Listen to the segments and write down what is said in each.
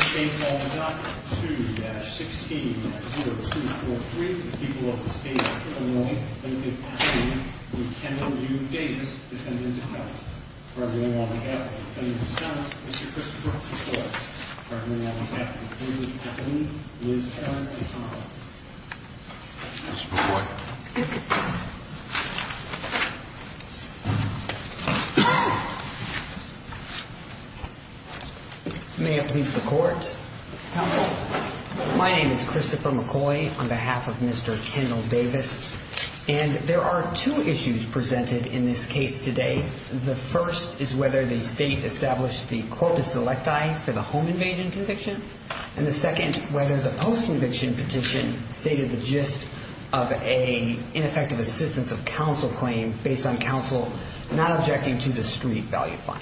2-16-0243 for the people of the state of Illinois. Limited capacity. We can't hold you, Davis, dependent on it. Pardon me while we have it. Dependent of the Senate, Mr. Christopher, please vote. Pardon me while we have it. Representative Kathleen, Liz, Karen, and Tom. Mr. McCoy. May it please the court. Counsel. My name is Christopher McCoy on behalf of Mr. Kendall Davis, and there are two issues presented in this case today. The first is whether the state established the corpus electi for the home invasion conviction. And the second, whether the post conviction petition stated the gist of a ineffective assistance of counsel claim based on counsel not objecting to the street value fine.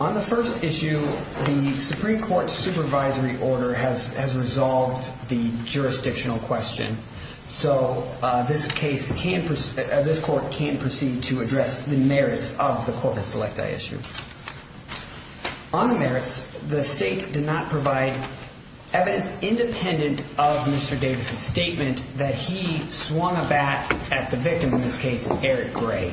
On the first issue, the Supreme Court supervisory order has has resolved the jurisdictional question. So this case can this court can proceed to address the merits of the corpus electi issue. On the merits, the state did not provide evidence independent of Mr. Davis's statement that he swung a bat at the victim in this case, Eric Gray.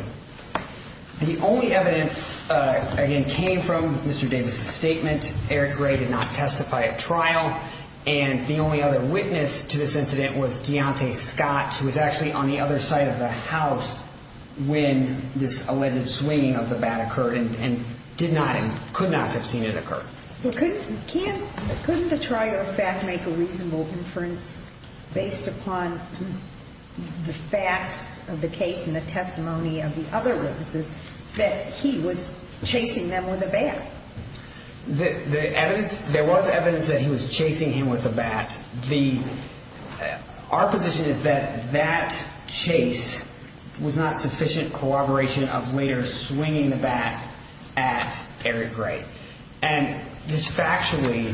The only evidence again came from Mr. Davis's statement. Eric Gray did not testify at trial. The only other witness to this incident was Deontay Scott, who was actually on the other side of the house when this alleged swinging of the bat occurred and did not and could not have seen it occur. Couldn't the trial fact make a reasonable inference based upon the facts of the case and the testimony of the other witnesses that he was chasing them with a bat? The evidence there was evidence that he was chasing him with a bat. The our position is that that chase was not sufficient corroboration of later swinging the bat at Eric Gray. And just factually,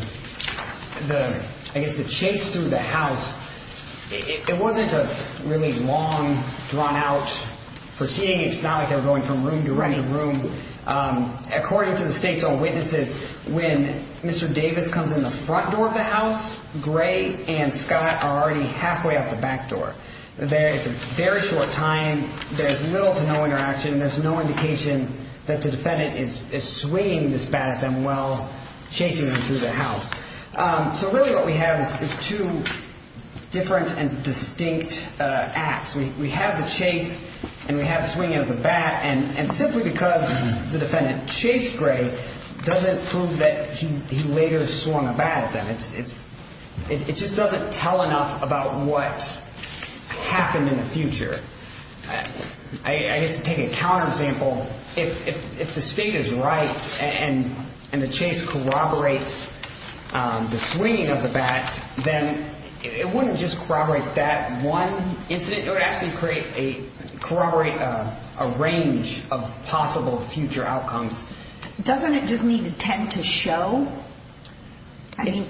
the I guess the chase through the house, it wasn't a really long drawn out proceeding. It's not like they were going from room to room. According to the state's own witnesses, when Mr. Davis comes in the front door of the house, Gray and Scott are already halfway up the back door. There is a very short time. There is little to no interaction. There's no indication that the defendant is swinging this bat at them while chasing them through the house. So really what we have is two different and distinct acts. We have the chase and we have swinging of the bat. And simply because the defendant chased Gray doesn't prove that he later swung a bat at them. It's it just doesn't tell enough about what happened in the future. I just take a counter example. If if if the state is right and and the chase corroborates the swinging of the bat, then it wouldn't just corroborate that one incident. It would actually create a corroborate a range of possible future outcomes. Doesn't it just need to tend to show? I mean,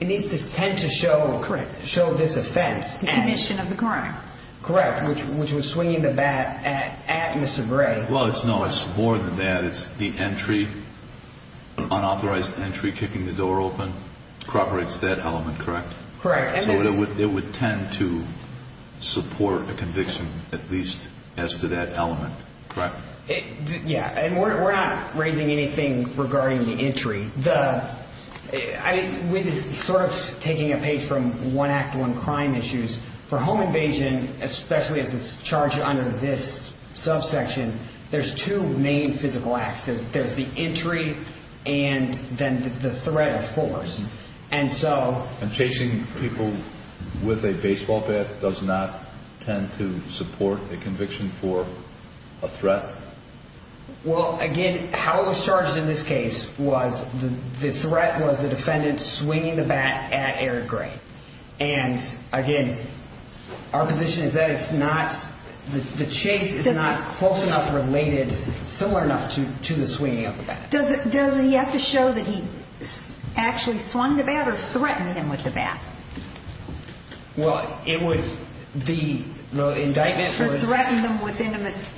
it needs to tend to show correct. The condition of the crime. Correct. Which which was swinging the bat at at Mr. Gray. Well, it's no, it's more than that. It's the entry. Unauthorized entry, kicking the door open. Corroborates that element. Correct. Correct. It would tend to support a conviction, at least as to that element. Correct. Yeah. And we're not raising anything regarding the entry. I mean, we're sort of taking a page from one act, one crime issues for home invasion, especially as it's charged under this subsection. There's two main physical acts. There's the entry and then the threat, of course. And so chasing people with a baseball bat does not tend to support a conviction for a threat. Well, again, how it was charged in this case was the threat was the defendant swinging the bat at Eric Gray. And again, our position is that it's not the chase is not close enough, related similar enough to the swinging of the bat. Does it does he have to show that he actually swung the bat or threatened him with the bat? Well, it would be the indictment. Threaten them with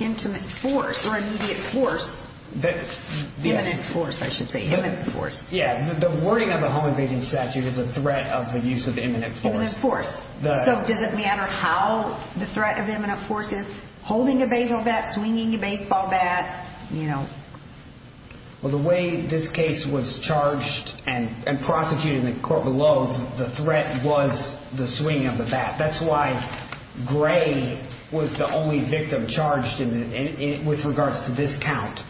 intimate force or immediate force. The force, I should say, force. Yeah. The wording of the home invasion statute is a threat of the use of imminent force. So does it matter how the threat of imminent force is holding a baseball bat, swinging a baseball bat? Well, the way this case was charged and prosecuted in the court below, the threat was the swing of the bat. That's why Gray was the only victim charged with regards to this count.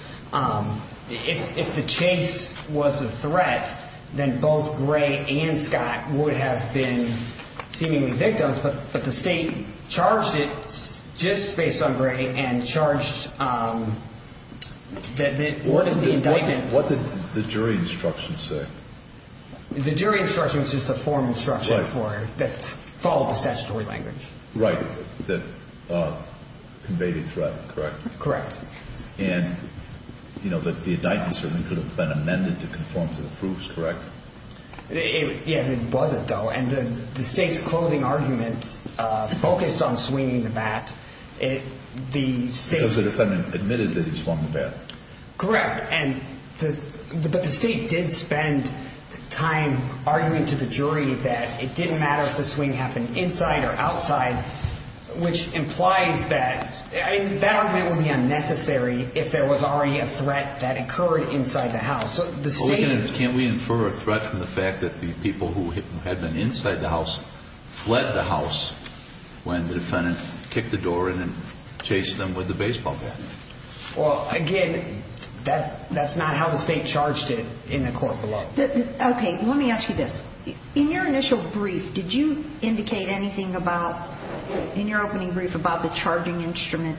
If the chase was a threat, then both Gray and Scott would have been seemingly victims. But the state charged it just based on Gray and charged that the indictment. What did the jury instruction say? The jury instruction was just a formal instruction that followed the statutory language. Right. That conveyed a threat. Correct. Correct. And, you know, the indictment certainly could have been amended to conform to the proofs. Correct. Yes, it wasn't, though. And the state's closing arguments focused on swinging the bat. Because the defendant admitted that he swung the bat. Correct. But the state did spend time arguing to the jury that it didn't matter if the swing happened inside or outside, which implies that that argument would be unnecessary if there was already a threat that occurred inside the house. Can't we infer a threat from the fact that the people who had been inside the house fled the house when the defendant kicked the door in and chased them with the baseball bat? Well, again, that's not how the state charged it in the court below. Okay. Let me ask you this. In your initial brief, did you indicate anything about, in your opening brief, about the charging instrument?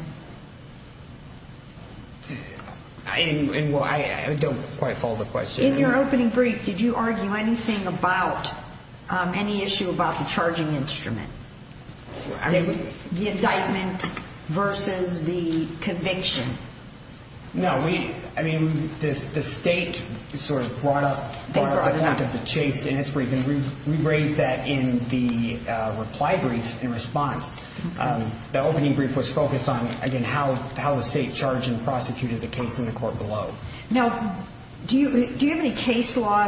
I don't quite follow the question. In your opening brief, did you argue anything about any issue about the charging instrument? The indictment versus the conviction? No. I mean, the state sort of brought up the point of the chase in its brief, and we raised that in the reply brief in response. The opening brief was focused on, again, how the state charged and prosecuted the case in the court below. Now, do you have any case law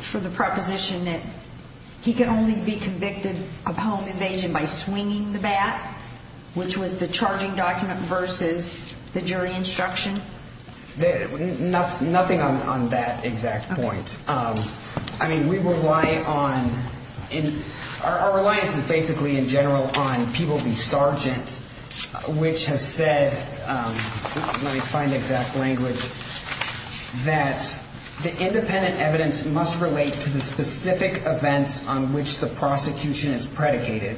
for the proposition that he can only be convicted of home invasion by swinging the bat, which was the charging document versus the jury instruction? Nothing on that exact point. I mean, we rely on, our reliance is basically in general on people be sergeant, which has said, let me find the exact language, that the independent evidence must relate to the specific events on which the prosecution is predicated.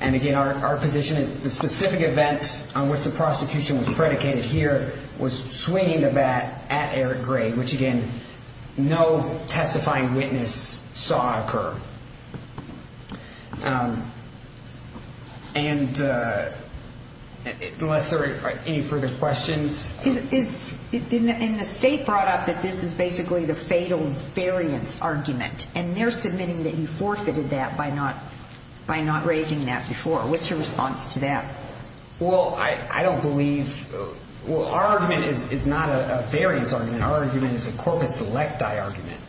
And, again, our position is the specific events on which the prosecution was predicated here was swinging the bat at Eric Gray, which, again, no testifying witness saw occur. And unless there are any further questions. And the state brought up that this is basically the fatal variance argument, and they're submitting that you forfeited that by not raising that before. What's your response to that? Well, I don't believe, well, our argument is not a variance argument. Our argument is a corpus selecti argument.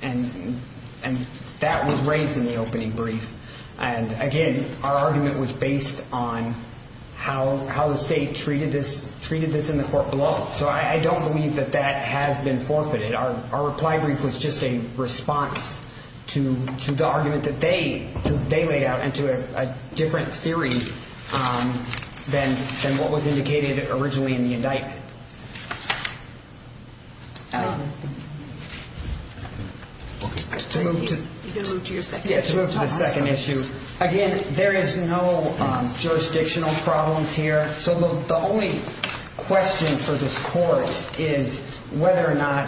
And that was raised in the opening brief. And, again, our argument was based on how the state treated this in the court below. So I don't believe that that has been forfeited. Our reply brief was just a response to the argument that they laid out into a different theory than what was indicated originally in the indictment. To move to the second issue. Again, there is no jurisdictional problems here. So the only question for this court is whether or not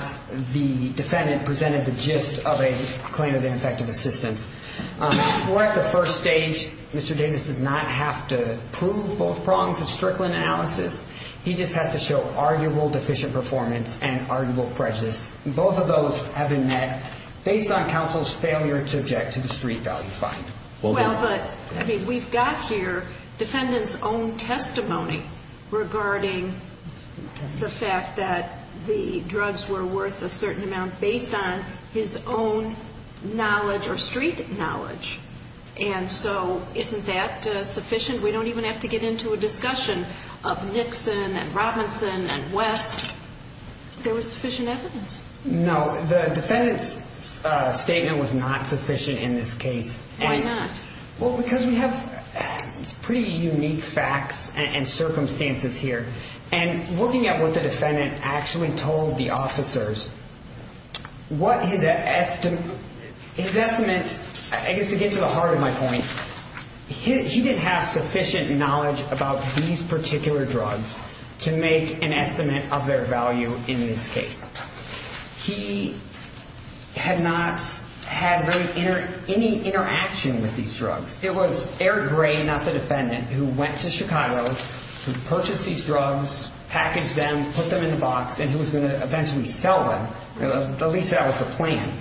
the defendant presented the gist of a claim of ineffective assistance. We're at the first stage. Mr. Davis does not have to prove both prongs of Strickland analysis. He just has to show arguable deficient performance and arguable prejudice. Both of those have been met based on counsel's failure to object to the street value fine. Well, but, I mean, we've got here defendant's own testimony regarding the fact that the drugs were worth a certain amount based on his own knowledge or street knowledge. And so isn't that sufficient? We don't even have to get into a discussion of Nixon and Robinson and West. There was sufficient evidence. No, the defendant's statement was not sufficient in this case. Why not? Well, because we have pretty unique facts and circumstances here. And looking at what the defendant actually told the officers, his estimate, I guess to get to the heart of my point, he didn't have sufficient knowledge about these particular drugs to make an estimate of their value in this case. He had not had any interaction with these drugs. It was Eric Gray, not the defendant, who went to Chicago, who purchased these drugs, packaged them, put them in the box, and who was going to eventually sell them, at least that was the plan.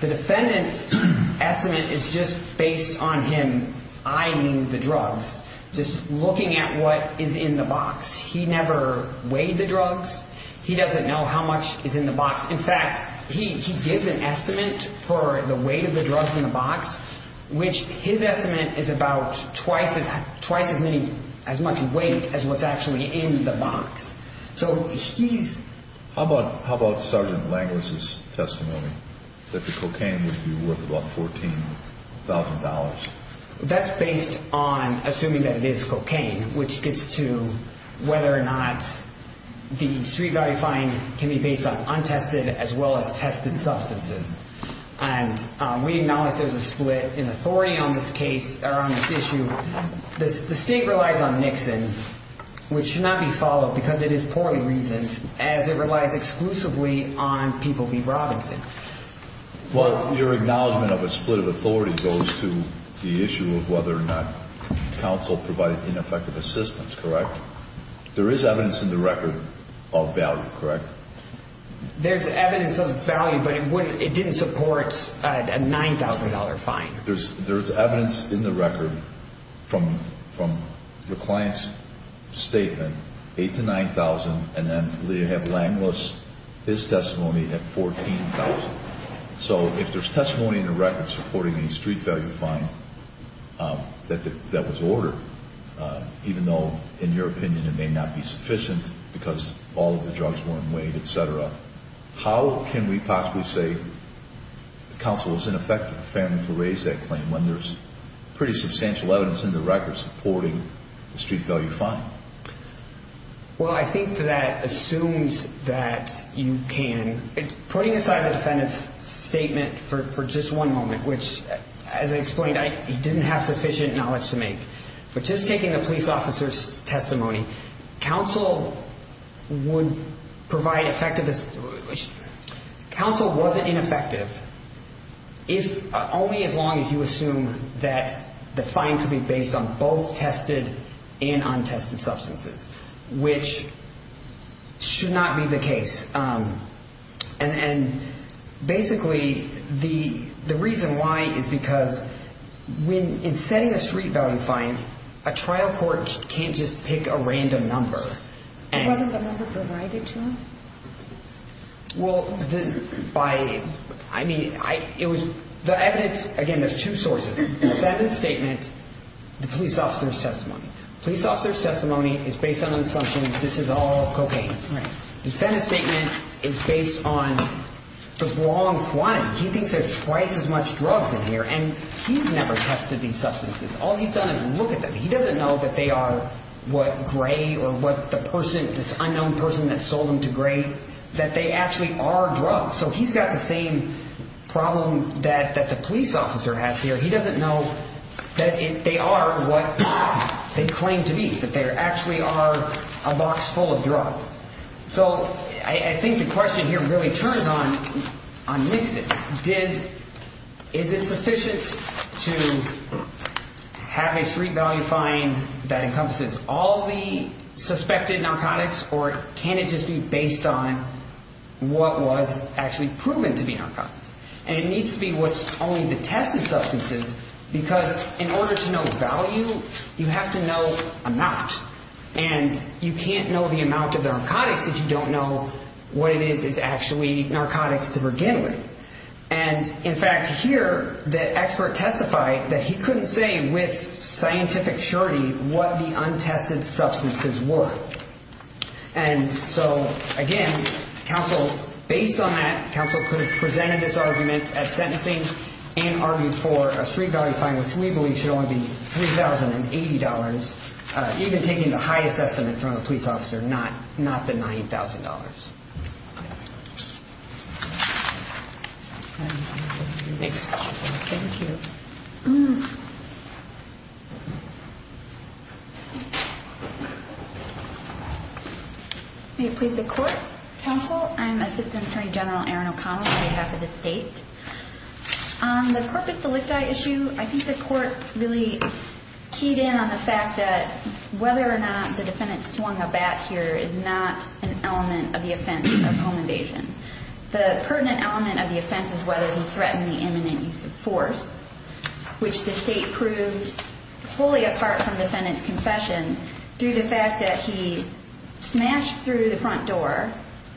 The defendant's estimate is just based on him eyeing the drugs, just looking at what is in the box. He never weighed the drugs. He doesn't know how much is in the box. In fact, he gives an estimate for the weight of the drugs in the box, which his estimate is about twice as many, as much weight as what's actually in the box. So he's... How about Sergeant Langless's testimony that the cocaine would be worth about $14,000? That's based on assuming that it is cocaine, which gets to whether or not the street value fine can be based on untested as well as tested substances. And we acknowledge there's a split in authority on this case, or on this issue. The state relies on Nixon, which should not be followed because it is poorly reasoned, as it relies exclusively on People v. Robinson. But your acknowledgement of a split of authority goes to the issue of whether or not counsel provided ineffective assistance, correct? There is evidence in the record of value, correct? There's evidence of value, but it didn't support a $9,000 fine. There's evidence in the record from the client's statement, $8,000 to $9,000, and then you have Langless, his testimony at $14,000. So if there's testimony in the record supporting a street value fine that was ordered, even though, in your opinion, it may not be sufficient because all of the drugs weren't weighed, etc., how can we possibly say counsel was ineffective, fair enough to raise that claim, when there's pretty substantial evidence in the record supporting a street value fine? Well, I think that assumes that you can. Putting aside the defendant's statement for just one moment, which, as I explained, he didn't have sufficient knowledge to make, but just taking the police officer's testimony, counsel would provide effective assistance. Counsel wasn't ineffective if only as long as you assume that the fine could be based on both tested and untested substances, which should not be the case. And basically, the reason why is because in setting a street value fine, a trial court can't just pick a random number. It wasn't the number provided to him? Well, the evidence, again, there's two sources, defendant's statement, the police officer's testimony. Police officer's testimony is based on the assumption this is all cocaine. Right. Defendant's statement is based on the wrong quantity. He thinks there's twice as much drugs in here, and he's never tested these substances. All he's done is look at them. He doesn't know that they are what Gray or what the person, this unknown person that sold them to Gray, that they actually are drugs. So he's got the same problem that the police officer has here. He doesn't know that they are what they claim to be, that they actually are a box full of drugs. So I think the question here really turns on Nixon. Is it sufficient to have a street value fine that encompasses all the suspected narcotics, or can it just be based on what was actually proven to be narcotics? And it needs to be what's only the tested substances, because in order to know the value, you have to know amount. And you can't know the amount of the narcotics if you don't know what it is is actually narcotics to begin with. And, in fact, here, the expert testified that he couldn't say with scientific surety what the untested substances were. And so, again, based on that, counsel could have presented this argument at sentencing and argued for a street value fine, which we believe should only be $3,080, even taking the highest estimate from a police officer, not the $9,000. Thanks. Thank you. May it please the court, counsel? I'm Assistant Attorney General Erin O'Connell on behalf of the state. On the corpus delicti issue, I think the court really keyed in on the fact that whether or not the defendant swung a bat here is not an element of the offense of home invasion. The pertinent element of the offense is whether he threatened the imminent use of force, which the state proved wholly apart from the defendant's confession through the fact that he smashed through the front door,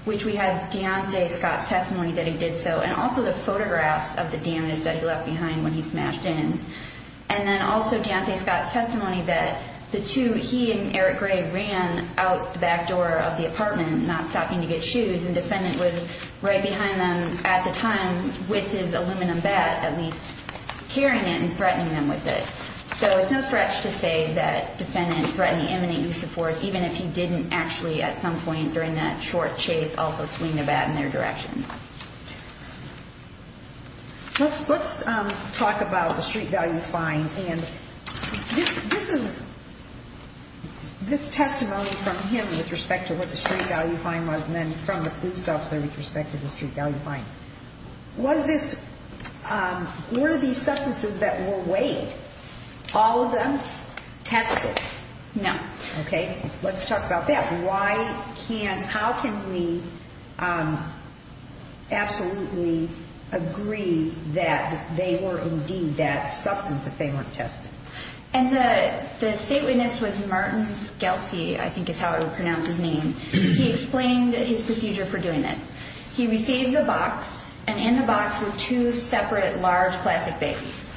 which we have Deontay Scott's testimony that he did so, and also the photographs of the damage that he left behind when he smashed in, and then also Deontay Scott's testimony that the two, he and Eric Gray, ran out the back door of the apartment, not stopping to get shoes, and the defendant was right behind them at the time with his aluminum bat, at least carrying it and threatening them with it. So it's no stretch to say that the defendant threatened the imminent use of force, even if he didn't actually at some point during that short chase also swing the bat in their direction. Let's talk about the street value fine. And this is, this testimony from him with respect to what the street value fine was, and then from the police officer with respect to the street value fine. Was this, were these substances that were weighed, all of them tested? No. Okay. Let's talk about that. And why can't, how can we absolutely agree that they were indeed that substance if they weren't tested? And the state witness was Martin Scalzi, I think is how I would pronounce his name. He explained his procedure for doing this. He received the box, and in the box were two separate large plastic babies.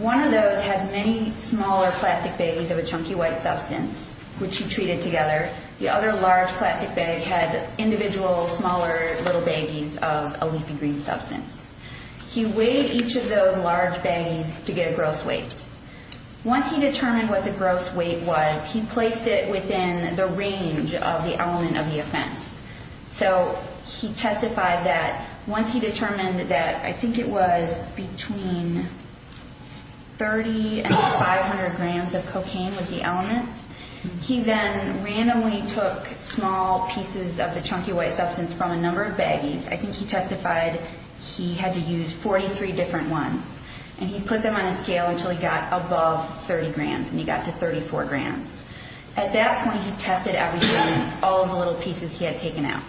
One of those had many smaller plastic babies of a chunky white substance, which he treated together. The other large plastic bag had individual smaller little babies of a leafy green substance. He weighed each of those large babies to get a gross weight. Once he determined what the gross weight was, he placed it within the range of the element of the offense. So he testified that once he determined that I think it was between 30 and 500 grams of cocaine was the element, he then randomly took small pieces of the chunky white substance from a number of baggies. I think he testified he had to use 43 different ones. And he put them on a scale until he got above 30 grams, and he got to 34 grams. At that point, he tested everything, all of the little pieces he had taken out.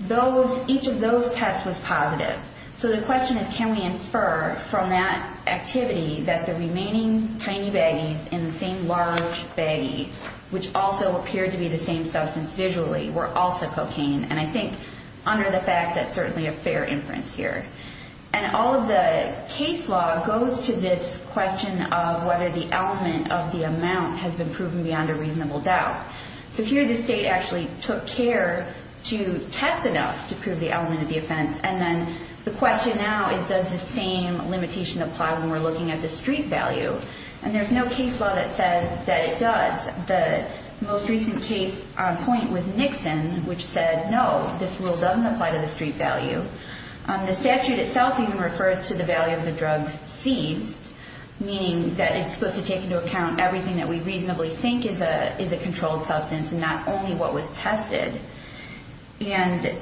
Those, each of those tests was positive. So the question is can we infer from that activity that the remaining tiny baggies in the same large baggie, which also appeared to be the same substance visually, were also cocaine. And I think under the facts that's certainly a fair inference here. And all of the case law goes to this question of whether the element of the amount has been proven beyond a reasonable doubt. So here the state actually took care to test enough to prove the element of the offense, and then the question now is does the same limitation apply when we're looking at the street value. And there's no case law that says that it does. The most recent case point was Nixon, which said no, this rule doesn't apply to the street value. The statute itself even refers to the value of the drugs seized, meaning that it's supposed to take into account everything that we reasonably think is a controlled substance and not only what was tested. And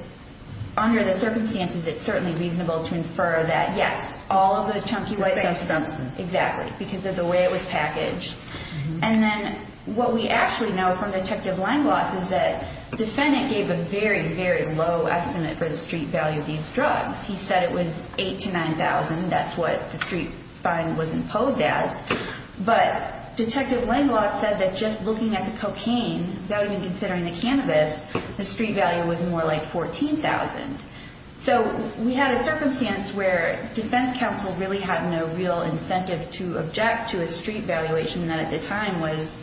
under the circumstances, it's certainly reasonable to infer that, yes, all of the chunky was the same substance. The same substance. Exactly, because of the way it was packaged. And then what we actually know from Detective Langloss is that the defendant gave a very, very low estimate for the street value of these drugs. He said it was $8,000 to $9,000. That's what the street fine was imposed as. But Detective Langloss said that just looking at the cocaine, without even considering the cannabis, the street value was more like $14,000. So we had a circumstance where defense counsel really had no real incentive to object to a street valuation that at the time was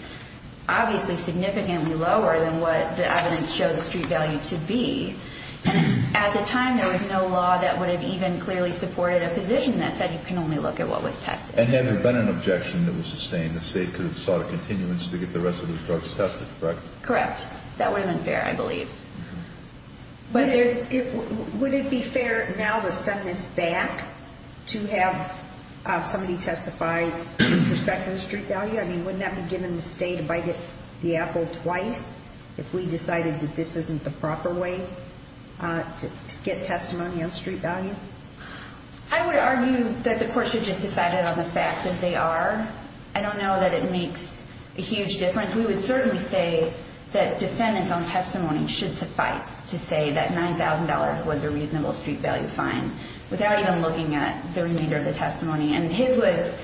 obviously significantly lower than what the evidence showed the street value to be. And at the time, there was no law that would have even clearly supported a position that said you can only look at what was tested. And had there been an objection that was sustained, the State could have sought a continuance to get the rest of those drugs tested, correct? Correct. That would have been fair, I believe. Would it be fair now to send this back to have somebody testify with respect to the street value? I mean, wouldn't that be giving the State a bite of the apple twice if we decided that this isn't the proper way to get testimony on street value? I would argue that the Court should just decide it on the facts as they are. I don't know that it makes a huge difference. We would certainly say that defendants on testimony should suffice to say that $9,000 was a reasonable street value fine without even looking at the remainder of the testimony. And his was,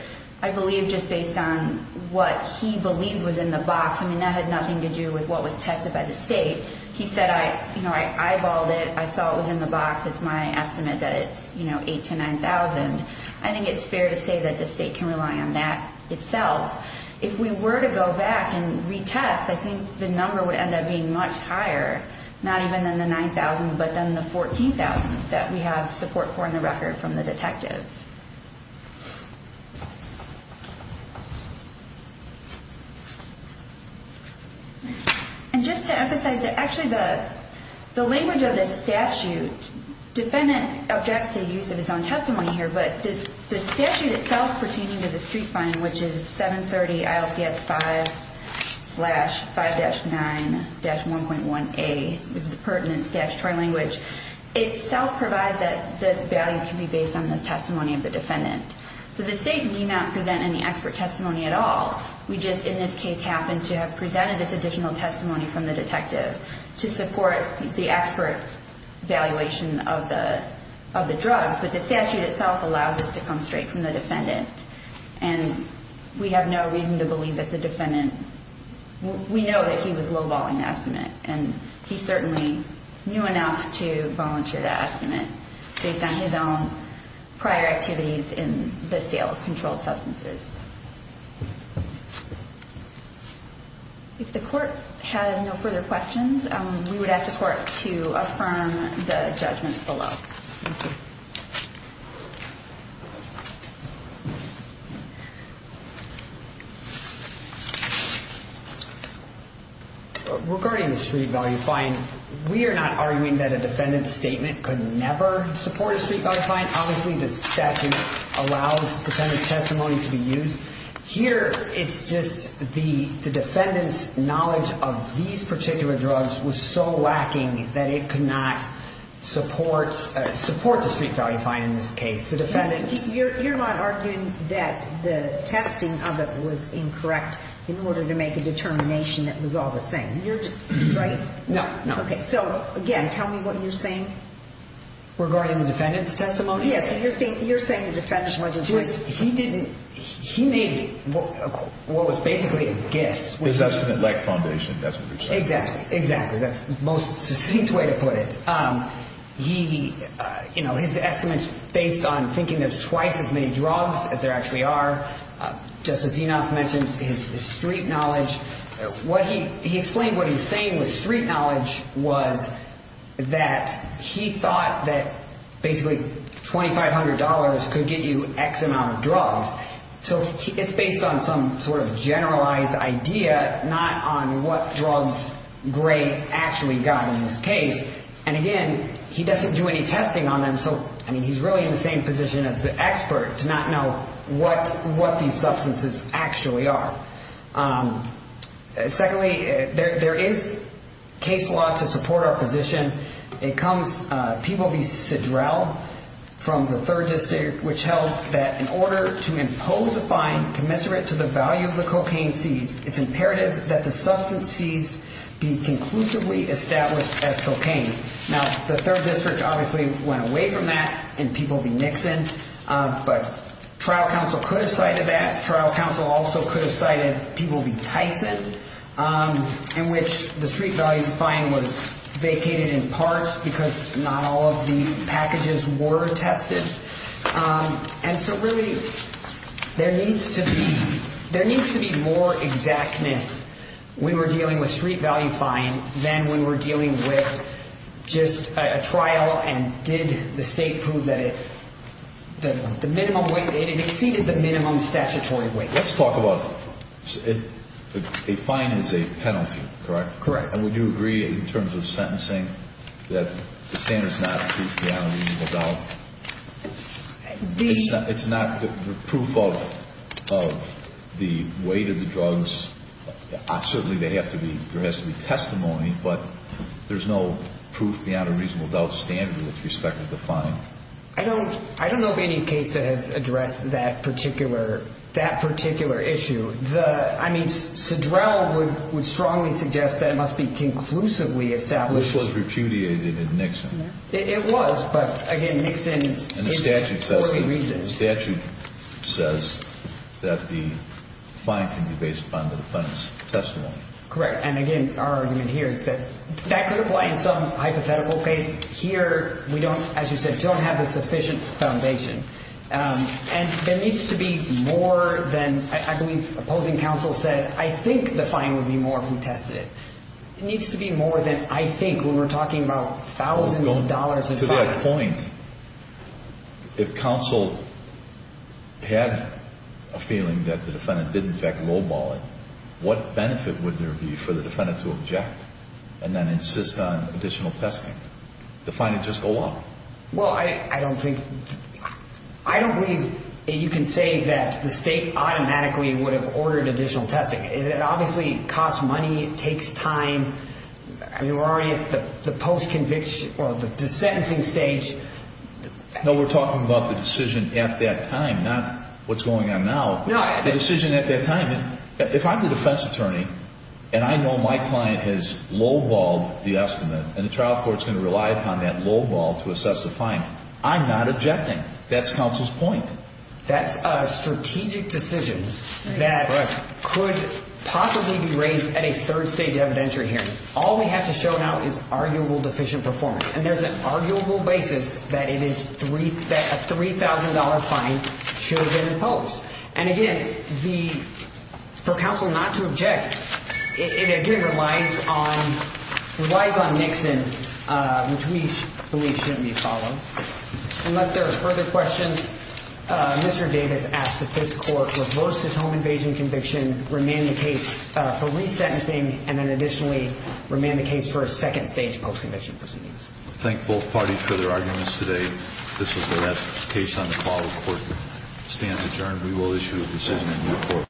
I believe, just based on what he believed was in the box. I mean, that had nothing to do with what was tested by the State. He said, you know, I eyeballed it. I saw it was in the box. It's my estimate that it's, you know, $8,000 to $9,000. I think it's fair to say that the State can rely on that itself. If we were to go back and retest, I think the number would end up being much higher, not even in the $9,000 but then the $14,000 that we have support for in the record from the detective. And just to emphasize that actually the language of the statute, defendant objects to the use of his own testimony here, but the statute itself pertaining to the street fine, which is 730 ILCS 5 slash 5-9-1.1A, which is the pertinent statutory language, So the State need not present any expert testimony at all. We just, in this case, happen to have presented this additional testimony from the detective to support the expert evaluation of the drugs. But the statute itself allows us to come straight from the defendant. And we have no reason to believe that the defendant, we know that he was lowballing the estimate. And he certainly knew enough to volunteer the estimate, based on his own prior activities in the sale of controlled substances. If the Court has no further questions, we would ask the Court to affirm the judgment below. Thank you. Regarding the street value fine, we are not arguing that a defendant's statement could never support a street value fine. Obviously, this statute allows defendant's testimony to be used. Here, it's just the defendant's knowledge of these particular drugs was so lacking that it could not support the street value fine in this case. You're not arguing that the testing of it was incorrect in order to make a determination that it was all the same. Right? No. So, again, tell me what you're saying. Regarding the defendant's testimony? Yes. You're saying the defendant wasn't... He didn't... He made what was basically a guess. That's an elect foundation. Exactly. Exactly. That's the most succinct way to put it. He... You know, his estimate's based on thinking there's twice as many drugs as there actually are. Justice Enoff mentioned his street knowledge. What he... He explained what he was saying with street knowledge was that he thought that basically $2,500 could get you X amount of drugs. So it's based on some sort of generalized idea, but not on what drugs Gray actually got in this case. And, again, he doesn't do any testing on them, so he's really in the same position as the expert to not know what these substances actually are. Secondly, there is case law to support our position. It comes... People v. Sidrell from the 3rd District, which held that in order to impose a fine commensurate to the value of the cocaine seized, it's imperative that the substance seized be conclusively established as cocaine. Now, the 3rd District obviously went away from that and people v. Nixon, but trial counsel could have cited that. Trial counsel also could have cited people v. Tyson, in which the street value fine was vacated in parts because not all of the packages were tested. And so really there needs to be more exactness when we're dealing with street value fine than when we're dealing with just a trial and did the state prove that it exceeded the minimum statutory weight. Let's talk about... A fine is a penalty, correct? Correct. And would you agree in terms of sentencing that the standard is not proof beyond a reasonable doubt? It's not proof of the weight of the drugs. Certainly there has to be testimony, but there's no proof beyond a reasonable doubt standard with respect to the fine. I don't know of any case that has addressed that particular issue. I mean, Sidrell would strongly suggest that it must be conclusively established. This was repudiated in Nixon. It was, but again, Nixon... And the statute says that the fine can be based upon the defendant's testimony. Correct. And again, our argument here is that that could apply in some hypothetical case. Here, we don't, as you said, don't have the sufficient foundation. And there needs to be more than, I believe, opposing counsel said, I think the fine would be more if we tested it. It needs to be more than I think when we're talking about thousands of dollars in fines. To that point, if counsel had a feeling that the defendant did in fact lowball it, what benefit would there be for the defendant to object and then insist on additional testing? The fine would just go up. Well, I don't think... I don't believe you can say that the state automatically would have ordered additional testing. It obviously costs money, it takes time. I mean, we're already at the post-conviction or the sentencing stage. No, we're talking about the decision at that time, not what's going on now. No, I think... The decision at that time. If I'm the defense attorney and I know my client has lowballed the estimate and the trial court's going to rely upon that lowball to assess the fine, I'm not objecting. That's counsel's point. That's a strategic decision that could possibly be raised at a third-stage evidentiary hearing. All we have to show now is arguable deficient performance, and there's an arguable basis that a $3,000 fine should have been imposed. And again, for counsel not to object, it again relies on Nixon, which we believe shouldn't be followed. Unless there are further questions, Mr. Davis asks that this Court reverse this home invasion conviction, remand the case for resentencing, and then additionally remand the case for a second-stage post-conviction proceedings. Thank both parties for their arguments today. This is the last case on the follow-court stand. Adjourned. We will issue a decision in your court.